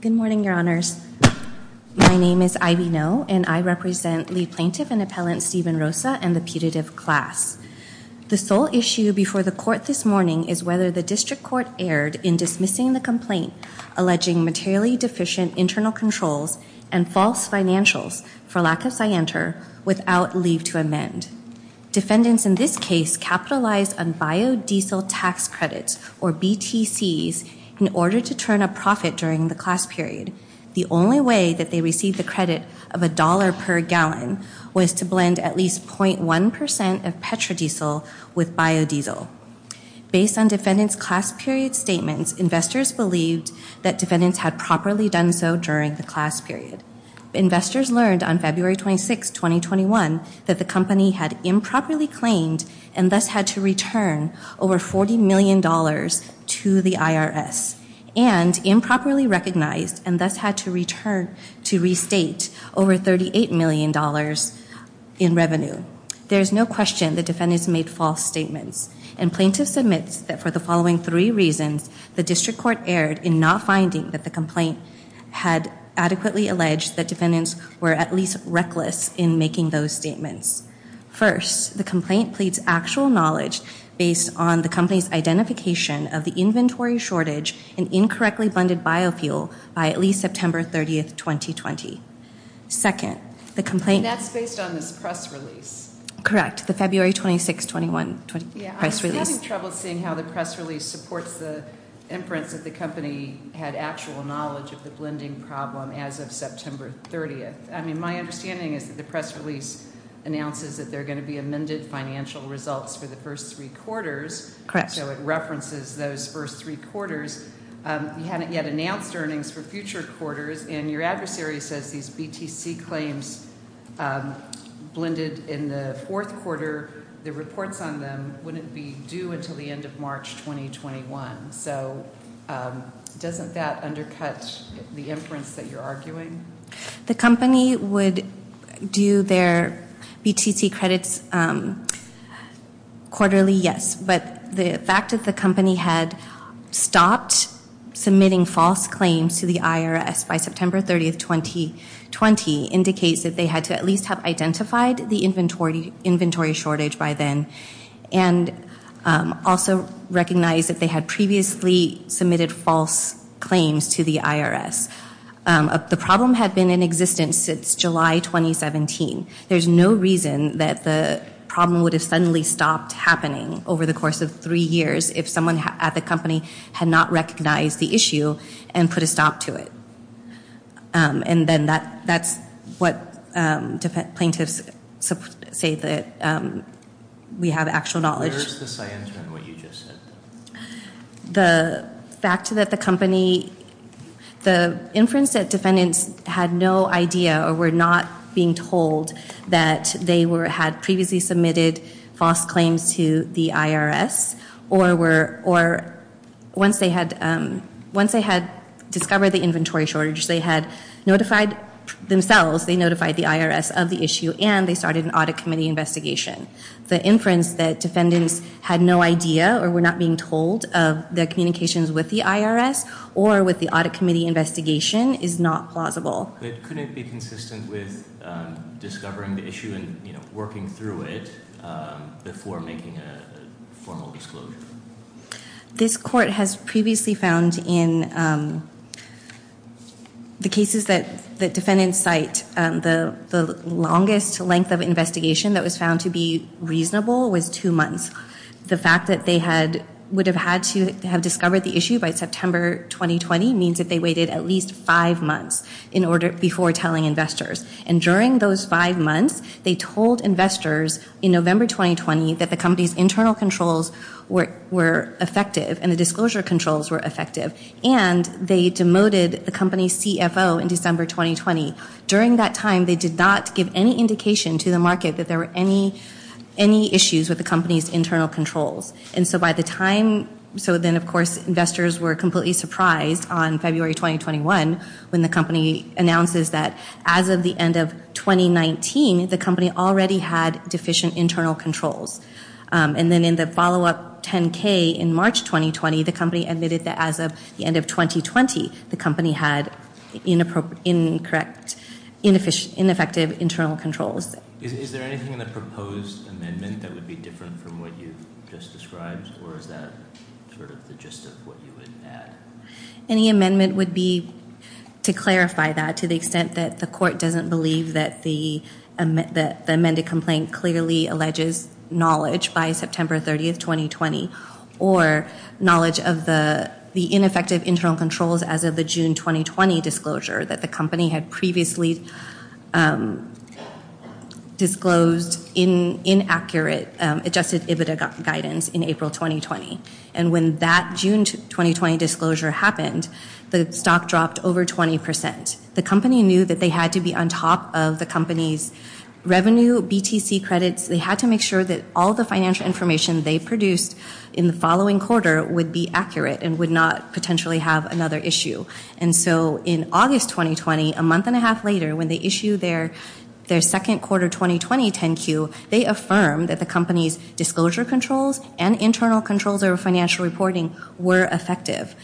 Good morning, your honors. My name is Ivy Ngo and I represent the plaintiff and appellant Stephen Rosa and the putative class. The sole issue before the court this morning is whether the district court erred in dismissing the complaint alleging materially deficient internal controls and false financials for lack of scienter without leave to amend. Defendants in this case capitalized on biodiesel tax credits, or BTCs, in order to turn a profit during the class period. The only way that they received the credit of a dollar per gallon was to blend at least 0.1% of petrodiesel with biodiesel. Based on defendant's class period statements, investors believed that defendants had properly done so during the class period. Investors learned on February 26, 2021, that the company had improperly claimed and thus had to return over $40 million to the IRS and improperly recognized and thus had to return to restate over $38 million in revenue. There is no question that defendants made false statements, and plaintiffs admit that for the following three reasons, the district court erred in not finding that the complaint had adequately alleged that defendants were at least reckless in making those statements. First, the complaint pleads actual knowledge based on the company's identification of the inventory shortage and incorrectly blended biofuel by at least September 30, 2020. Second, the complaint- And that's based on this press release. Correct, the February 26, 2021 press release. Yeah, I was having trouble seeing how the press release supports the inference that the company had actual knowledge of the blending problem as of September 30th. I mean, my understanding is that the press release announces that there are going to be amended financial results for the first three quarters. Correct. So it references those first three quarters. You hadn't yet announced earnings for future quarters, and your adversary says these BTC claims blended in the fourth quarter. The reports on them wouldn't be due until the end of March 2021. So doesn't that undercut the inference that you're arguing? The company would do their BTC credits quarterly, yes, but the fact that the company had stopped submitting false claims to the IRS by September 30th, 2020, indicates that they had to at least have identified the inventory shortage by then and also recognize that they had previously submitted false claims to the IRS. The problem had been in existence since July 2017. There's no reason that the problem would have suddenly stopped happening over the course of three years if someone at the company had not recognized the issue and put a stop to it. And then that's what plaintiffs say that we have actual knowledge. Where is the science in what you just said? The fact that the company, the inference that defendants had no idea or were not being told that they had previously submitted false claims to the IRS or once they had discovered the inventory shortage, they had notified themselves, they notified the IRS of the issue and they started an audit committee investigation. The inference that defendants had no idea or were not being told of the communications with the IRS or with the audit committee investigation is not plausible. But couldn't it be consistent with discovering the issue and working through it before making a formal disclosure? This court has previously found in the cases that defendants cite, the longest length of investigation that was found to be reasonable was two months. The fact that they would have had to have discovered the issue by September 2020 means that they waited at least five months before telling investors. And during those five months, they told investors in November 2020 that the company's internal controls were effective and the disclosure controls were effective. And they demoted the company's CFO in December 2020. During that time, they did not give any indication to the market that there were any issues with the company's internal controls. And so by the time, so then of course investors were completely surprised on February 2021 when the company announces that as of the end of 2019, the company already had deficient internal controls. And then in the follow up 10K in March 2020, the company admitted that as of the end of 2020, the company had ineffective internal controls. Is there anything in the proposed amendment that would be different from what you just described? Or is that sort of the gist of what you would add? Any amendment would be to clarify that to the extent that the court doesn't believe that the amended complaint clearly alleges knowledge by September 30, 2020. Or knowledge of the ineffective internal controls as of the June 2020 disclosure that the company had previously disclosed in inaccurate adjusted EBITDA guidance in April 2020. And when that June 2020 disclosure happened, the stock dropped over 20%. The company knew that they had to be on top of the company's revenue, BTC credits. They had to make sure that all the financial information they produced in the following quarter would be accurate and would not potentially have another issue. And so in August 2020, a month and a half later, when they issued their second quarter 2020 10Q, they affirmed that the company's disclosure controls and internal controls or financial reporting were effective.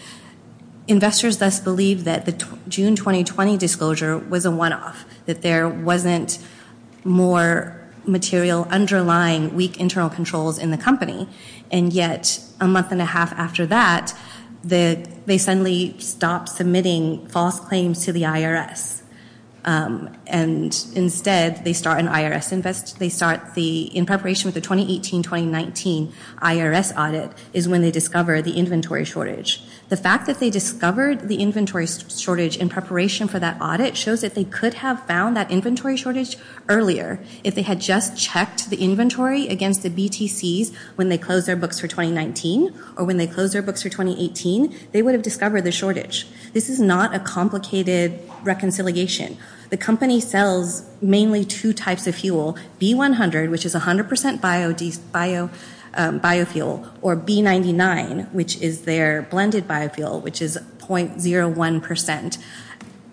Investors thus believed that the June 2020 disclosure was a one-off. That there wasn't more material underlying weak internal controls in the company. And yet a month and a half after that, they suddenly stopped submitting false claims to the IRS. And instead, they start an IRS invest, they start the, in preparation for the 2018-2019 IRS audit, is when they discover the inventory shortage. The fact that they discovered the inventory shortage in preparation for that audit shows that they could have found that inventory shortage earlier. If they had just checked the inventory against the BTCs when they closed their books for 2019 or when they closed their books for 2018, they would have discovered the shortage. This is not a complicated reconciliation. The company sells mainly two types of fuel, B100, which is 100% biofuel, or B99, which is their blended biofuel, which is 0.01%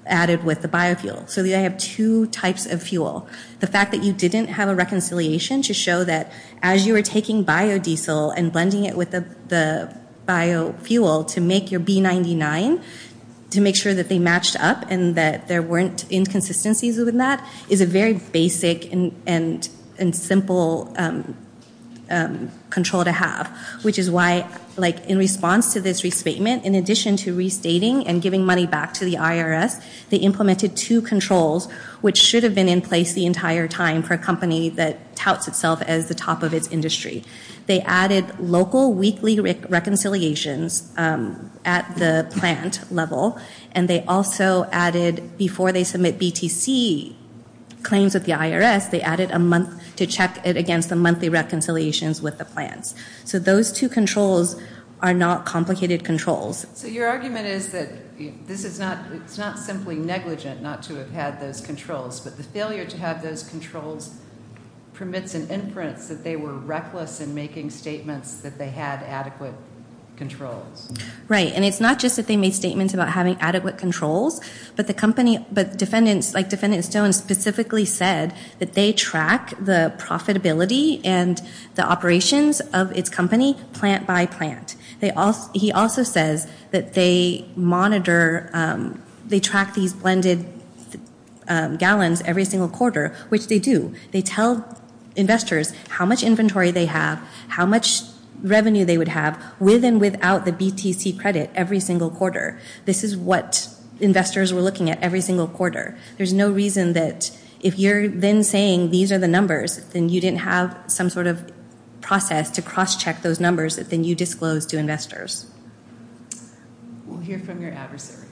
added with the biofuel. So they have two types of fuel. The fact that you didn't have a reconciliation to show that as you were taking biodiesel and blending it with the biofuel to make your B99, to make sure that they matched up and that there weren't inconsistencies in that, is a very basic and simple control to have. Which is why, in response to this restatement, in addition to restating and giving money back to the IRS, they implemented two controls, which should have been in place the entire time for a company that touts itself as the top of its industry. They added local weekly reconciliations at the plant level, and they also added, before they submit BTC claims at the IRS, they added a month to check it against the monthly reconciliations with the plants. So those two controls are not complicated controls. So your argument is that it's not simply negligent not to have had those controls, but the failure to have those controls permits an inference that they were reckless in making statements that they had adequate controls. Right, and it's not just that they made statements about having adequate controls, but the company, but defendants, like Defendant Stone specifically said that they track the profitability and the operations of its company plant by plant. He also says that they monitor, they track these blended gallons every single quarter, which they do. They tell investors how much inventory they have, how much revenue they would have with and without the BTC credit every single quarter. This is what investors were looking at every single quarter. There's no reason that if you're then saying these are the numbers, then you didn't have some sort of process to cross-check those numbers that then you disclose to investors. We'll hear from your adversary.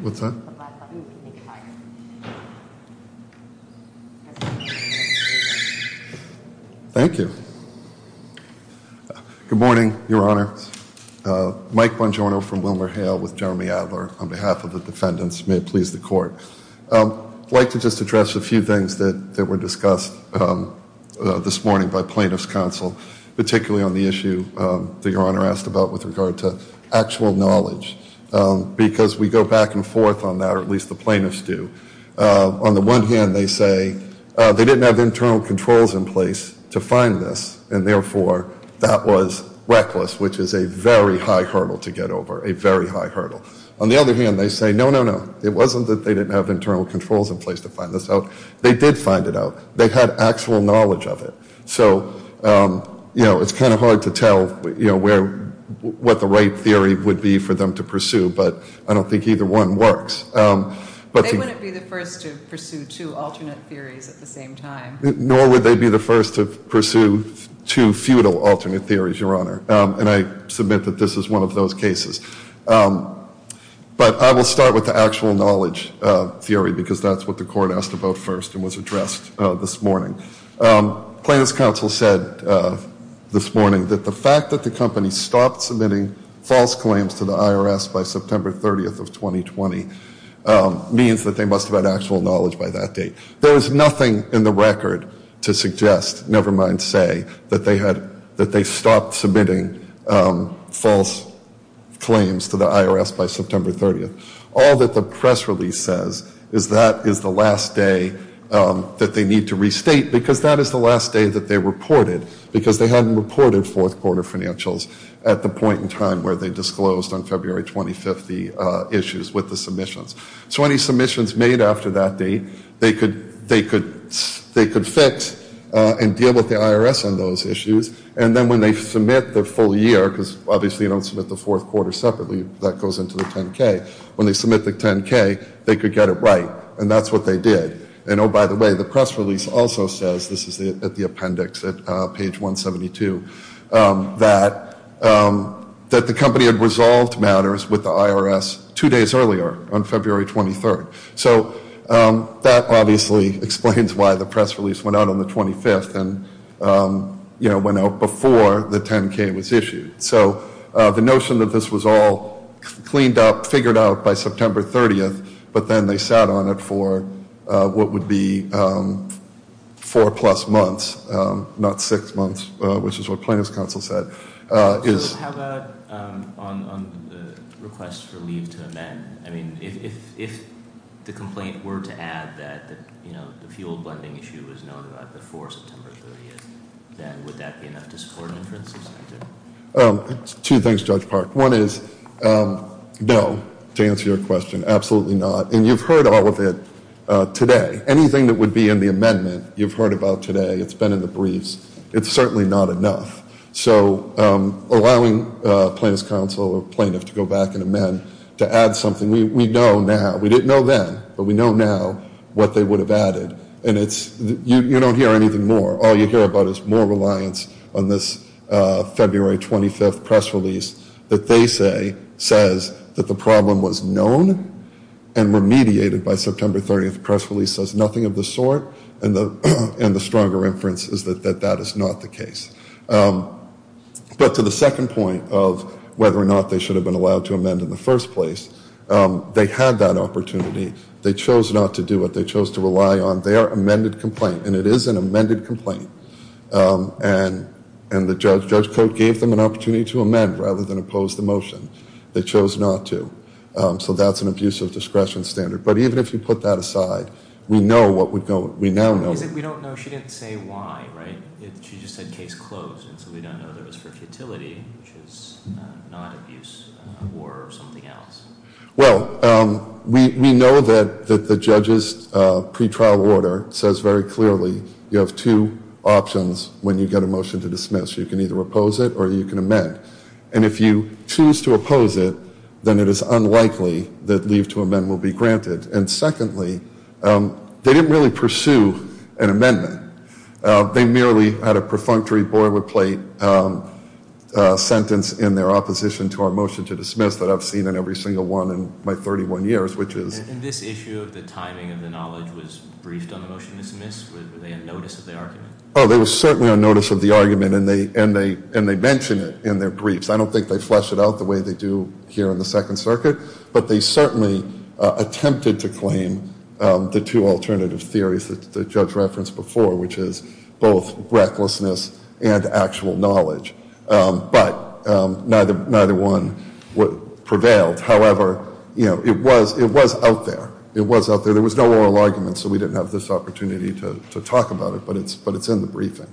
What's that? Thank you. Good morning, Your Honor. Mike Bongiorno from WilmerHale with Jeremy Adler on behalf of the defendants. May it please the Court. I'd like to just address a few things that were discussed this morning by plaintiff's counsel, particularly on the issue that Your Honor asked about with regard to actual knowledge. Because we go back and forth on that, or at least the plaintiffs do. On the one hand, they say they didn't have internal controls in place to find this, and therefore that was reckless, which is a very high hurdle to get over, a very high hurdle. On the other hand, they say, no, no, no, it wasn't that they didn't have internal controls in place to find this out. They did find it out. They had actual knowledge of it. So, you know, it's kind of hard to tell, you know, what the right theory would be for them to pursue, but I don't think either one works. They wouldn't be the first to pursue two alternate theories at the same time. Nor would they be the first to pursue two futile alternate theories, Your Honor. And I submit that this is one of those cases. But I will start with the actual knowledge theory because that's what the Court asked about first and was addressed this morning. Plaintiffs' counsel said this morning that the fact that the company stopped submitting false claims to the IRS by September 30th of 2020 means that they must have had actual knowledge by that date. There is nothing in the record to suggest, never mind say, that they had, that they stopped submitting false claims to the IRS by September 30th. All that the press release says is that is the last day that they need to restate because that is the last day that they reported because they hadn't reported fourth quarter financials at the point in time where they disclosed on February 25th the issues with the submissions. So any submissions made after that date, they could fix and deal with the IRS on those issues. And then when they submit their full year, because obviously you don't submit the fourth quarter separately, that goes into the 10-K. When they submit the 10-K, they could get it right. And that's what they did. And oh, by the way, the press release also says, this is at the appendix at page 172, that the company had resolved matters with the IRS two days earlier on February 23rd. So that obviously explains why the press release went out on the 25th and, you know, went out before the 10-K was issued. So the notion that this was all cleaned up, figured out by September 30th, but then they sat on it for what would be four plus months, not six months, which is what plaintiff's counsel said. So how about on the request for leave to amend? I mean, if the complaint were to add that, you know, the fuel blending issue was known about before September 30th, then would that be enough to support an inference? Two things, Judge Park. One is no, to answer your question. Absolutely not. And you've heard all of it today. Anything that would be in the amendment, you've heard about today. It's been in the briefs. It's certainly not enough. So allowing plaintiff's counsel or plaintiff to go back and amend to add something, we know now. We didn't know then, but we know now what they would have added. And you don't hear anything more. All you hear about is more reliance on this February 25th press release that they say says that the problem was known and remediated by September 30th. The press release says nothing of the sort. And the stronger inference is that that is not the case. But to the second point of whether or not they should have been allowed to amend in the first place, they had that opportunity. They chose not to do it. They chose to rely on their amended complaint. And it is an amended complaint. And the judge gave them an opportunity to amend rather than oppose the motion. They chose not to. So that's an abusive discretion standard. But even if you put that aside, we know what would go. We now know. We don't know. She didn't say why, right? She just said case closed. And so we don't know if it was for futility, which is not abuse or something else. Well, we know that the judge's pretrial order says very clearly you have two options when you get a motion to dismiss. You can either oppose it or you can amend. And if you choose to oppose it, then it is unlikely that leave to amend will be granted. And secondly, they didn't really pursue an amendment. They merely had a perfunctory boilerplate sentence in their opposition to our motion to dismiss that I've seen in every single one in my 31 years, which is. And this issue of the timing of the knowledge was briefed on the motion to dismiss? Were they on notice of the argument? Oh, they were certainly on notice of the argument. And they mention it in their briefs. I don't think they flesh it out the way they do here in the Second Circuit. But they certainly attempted to claim the two alternative theories that the judge referenced before, which is both recklessness and actual knowledge. But neither one prevailed. However, you know, it was out there. It was out there. There was no oral argument, so we didn't have this opportunity to talk about it. But it's in the briefing.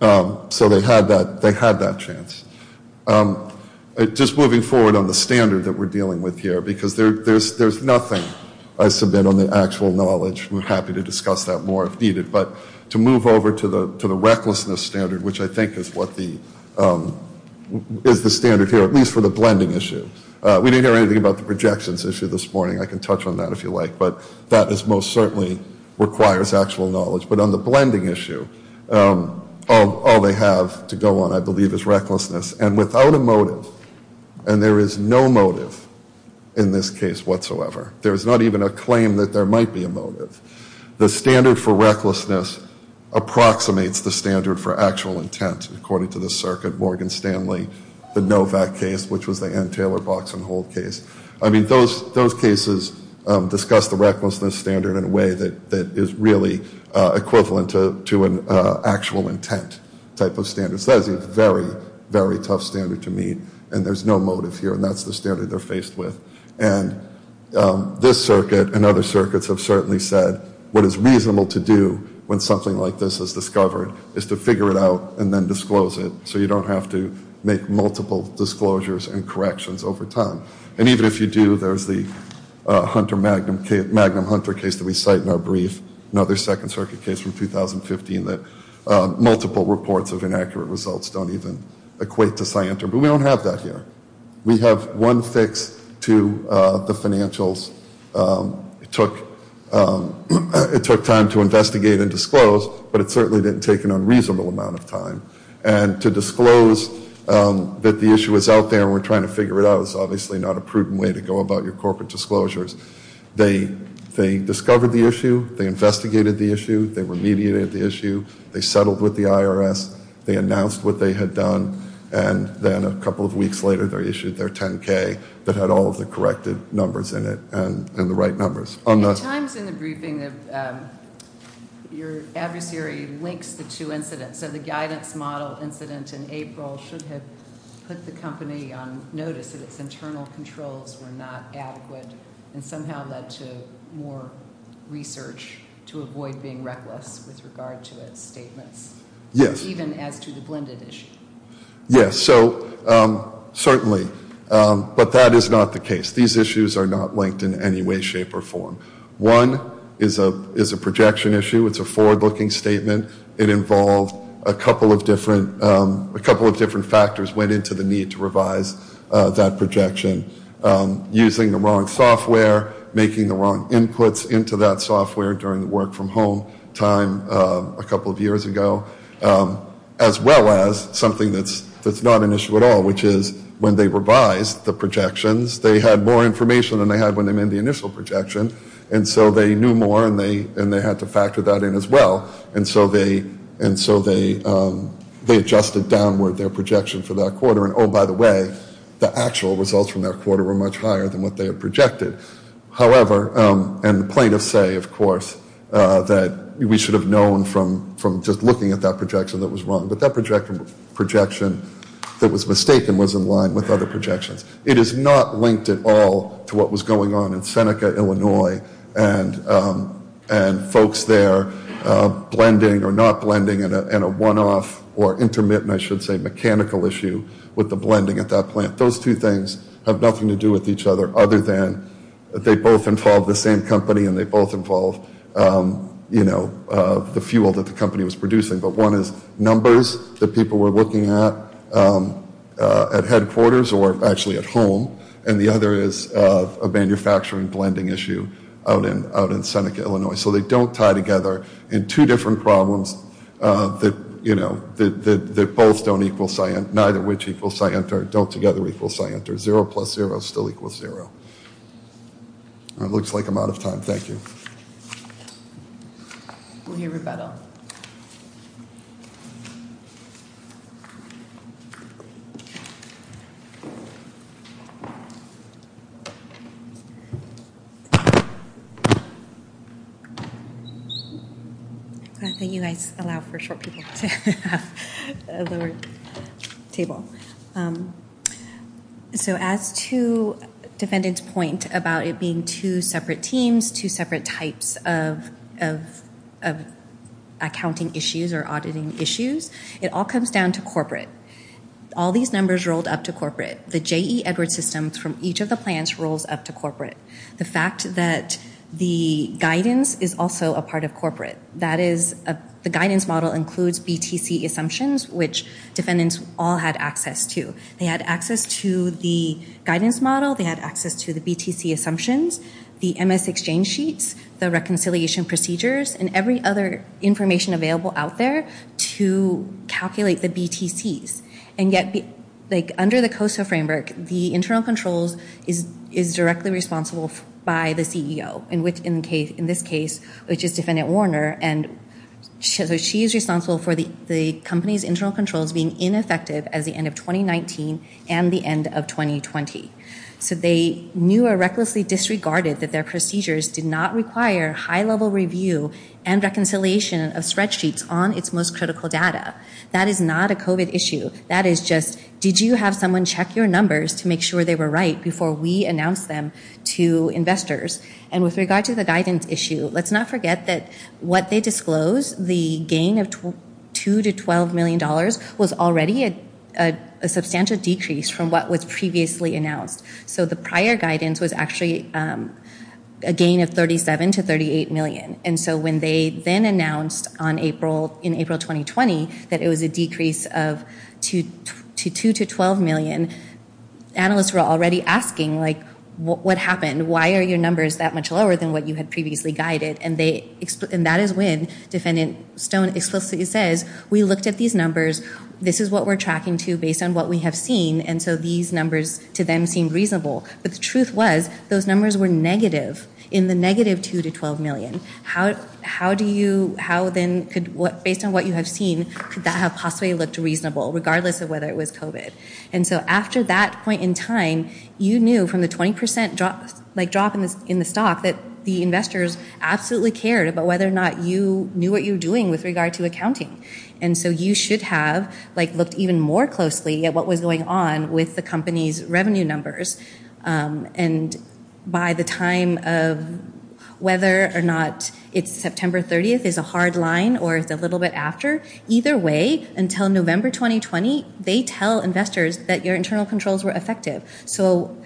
So they had that chance. Just moving forward on the standard that we're dealing with here, because there's nothing I submit on the actual knowledge. We're happy to discuss that more if needed. But to move over to the recklessness standard, which I think is the standard here, at least for the blending issue. We didn't hear anything about the projections issue this morning. I can touch on that if you like. But that most certainly requires actual knowledge. But on the blending issue, all they have to go on, I believe, is recklessness. And without a motive, and there is no motive in this case whatsoever. There's not even a claim that there might be a motive. The standard for recklessness approximates the standard for actual intent, according to the Circuit. Morgan Stanley, the Novak case, which was the Ann Taylor box and hold case. I mean, those cases discuss the recklessness standard in a way that is really equivalent to an actual intent type of standard. So that is a very, very tough standard to meet. And there's no motive here. And that's the standard they're faced with. And this Circuit and other circuits have certainly said what is reasonable to do when something like this is discovered is to figure it out and then disclose it. So you don't have to make multiple disclosures and corrections over time. And even if you do, there's the Hunter-Magnum-Hunter case that we cite in our brief, another Second Circuit case from 2015 that multiple reports of inaccurate results don't even equate to scienter. But we don't have that here. We have one fix to the financials. It took time to investigate and disclose, but it certainly didn't take an unreasonable amount of time. And to disclose that the issue is out there and we're trying to figure it out is obviously not a prudent way to go about your corporate disclosures. They discovered the issue. They investigated the issue. They remediated the issue. They settled with the IRS. They announced what they had done. And then a couple of weeks later, they issued their 10-K that had all of the corrected numbers in it and the right numbers. At times in the briefing, your adversary links the two incidents. So the guidance model incident in April should have put the company on notice that its internal controls were not adequate and somehow led to more research to avoid being reckless with regard to its statements. Yes. Even as to the blended issue. Yes. So certainly. But that is not the case. These issues are not linked in any way, shape, or form. One is a projection issue. It's a forward-looking statement. It involved a couple of different factors went into the need to revise that projection. Using the wrong software, making the wrong inputs into that software during the work-from-home time a couple of years ago, as well as something that's not an issue at all, which is when they revised the projections, they had more information than they had when they made the initial projection. And so they knew more, and they had to factor that in as well. And so they adjusted downward their projection for that quarter. And, oh, by the way, the actual results from that quarter were much higher than what they had projected. However, and plaintiffs say, of course, that we should have known from just looking at that projection that was wrong. But that projection that was mistaken was in line with other projections. It is not linked at all to what was going on in Seneca, Illinois, and folks there blending or not blending in a one-off or intermittent, I should say, mechanical issue with the blending at that plant. Those two things have nothing to do with each other other than they both involve the same company and they both involve the fuel that the company was producing. But one is numbers that people were looking at at headquarters or actually at home, and the other is a manufacturing blending issue out in Seneca, Illinois. So they don't tie together in two different problems that, you know, that both don't equal Sienta, neither which equals Sienta or don't together equal Sienta. Zero plus zero still equals zero. It looks like I'm out of time. Thank you. We'll hear rebuttal. I'm glad that you guys allow for short people to have a lower table. So as to defendant's point about it being two separate teams, two separate types of accounting issues or auditing issues, it all comes down to corporate. All these numbers rolled up to corporate. The J.E. Edwards system from each of the plants rolls up to corporate. The fact that the guidance is also a part of corporate. The guidance model includes BTC assumptions, which defendants all had access to. They had access to the guidance model. They had access to the BTC assumptions, the MS exchange sheets, the reconciliation procedures, and every other information available out there to calculate the BTCs. And yet under the COSO framework, the internal controls is directly responsible by the CEO, in this case, which is defendant Warner. And so she is responsible for the company's internal controls being ineffective as the end of 2019 and the end of 2020. So they knew or recklessly disregarded that their procedures did not require high-level review and reconciliation of spreadsheets on its most critical data. That is not a COVID issue. That is just did you have someone check your numbers to make sure they were right before we announced them to investors? And with regard to the guidance issue, let's not forget that what they disclosed, the gain of $2 to $12 million was already a substantial decrease from what was previously announced. So the prior guidance was actually a gain of $37 to $38 million. And so when they then announced in April 2020 that it was a decrease of $2 to $12 million, analysts were already asking, like, what happened? Why are your numbers that much lower than what you had previously guided? And that is when Defendant Stone explicitly says, we looked at these numbers. This is what we're tracking to based on what we have seen. And so these numbers to them seemed reasonable. But the truth was those numbers were negative in the negative $2 to $12 million. How do you, how then could, based on what you have seen, could that have possibly looked reasonable regardless of whether it was COVID? And so after that point in time, you knew from the 20% drop in the stock that the investors absolutely cared about whether or not you knew what you were doing with regard to accounting. And so you should have, like, looked even more closely at what was going on with the company's revenue numbers. And by the time of whether or not it's September 30th is a hard line or it's a little bit after, either way, until November 2020, they tell investors that your internal controls were effective. So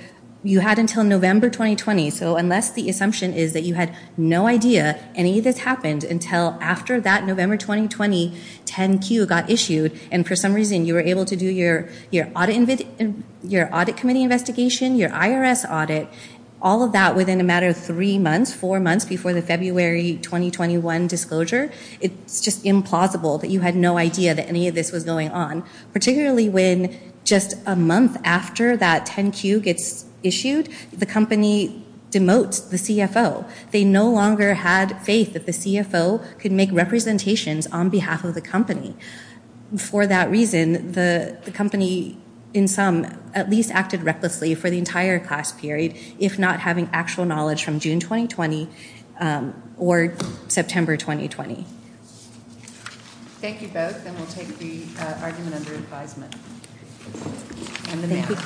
you had until November 2020. So unless the assumption is that you had no idea any of this happened until after that November 2020 10Q got issued, and for some reason you were able to do your audit committee investigation, your IRS audit, all of that within a matter of three months, four months before the February 2021 disclosure, it's just implausible that you had no idea that any of this was going on, particularly when just a month after that 10Q gets issued, the company demotes the CFO. They no longer had faith that the CFO could make representations on behalf of the company. For that reason, the company, in sum, at least acted recklessly for the entire class period, if not having actual knowledge from June 2020 or September 2020. Thank you both, and we'll take the argument under advisement. Thank you.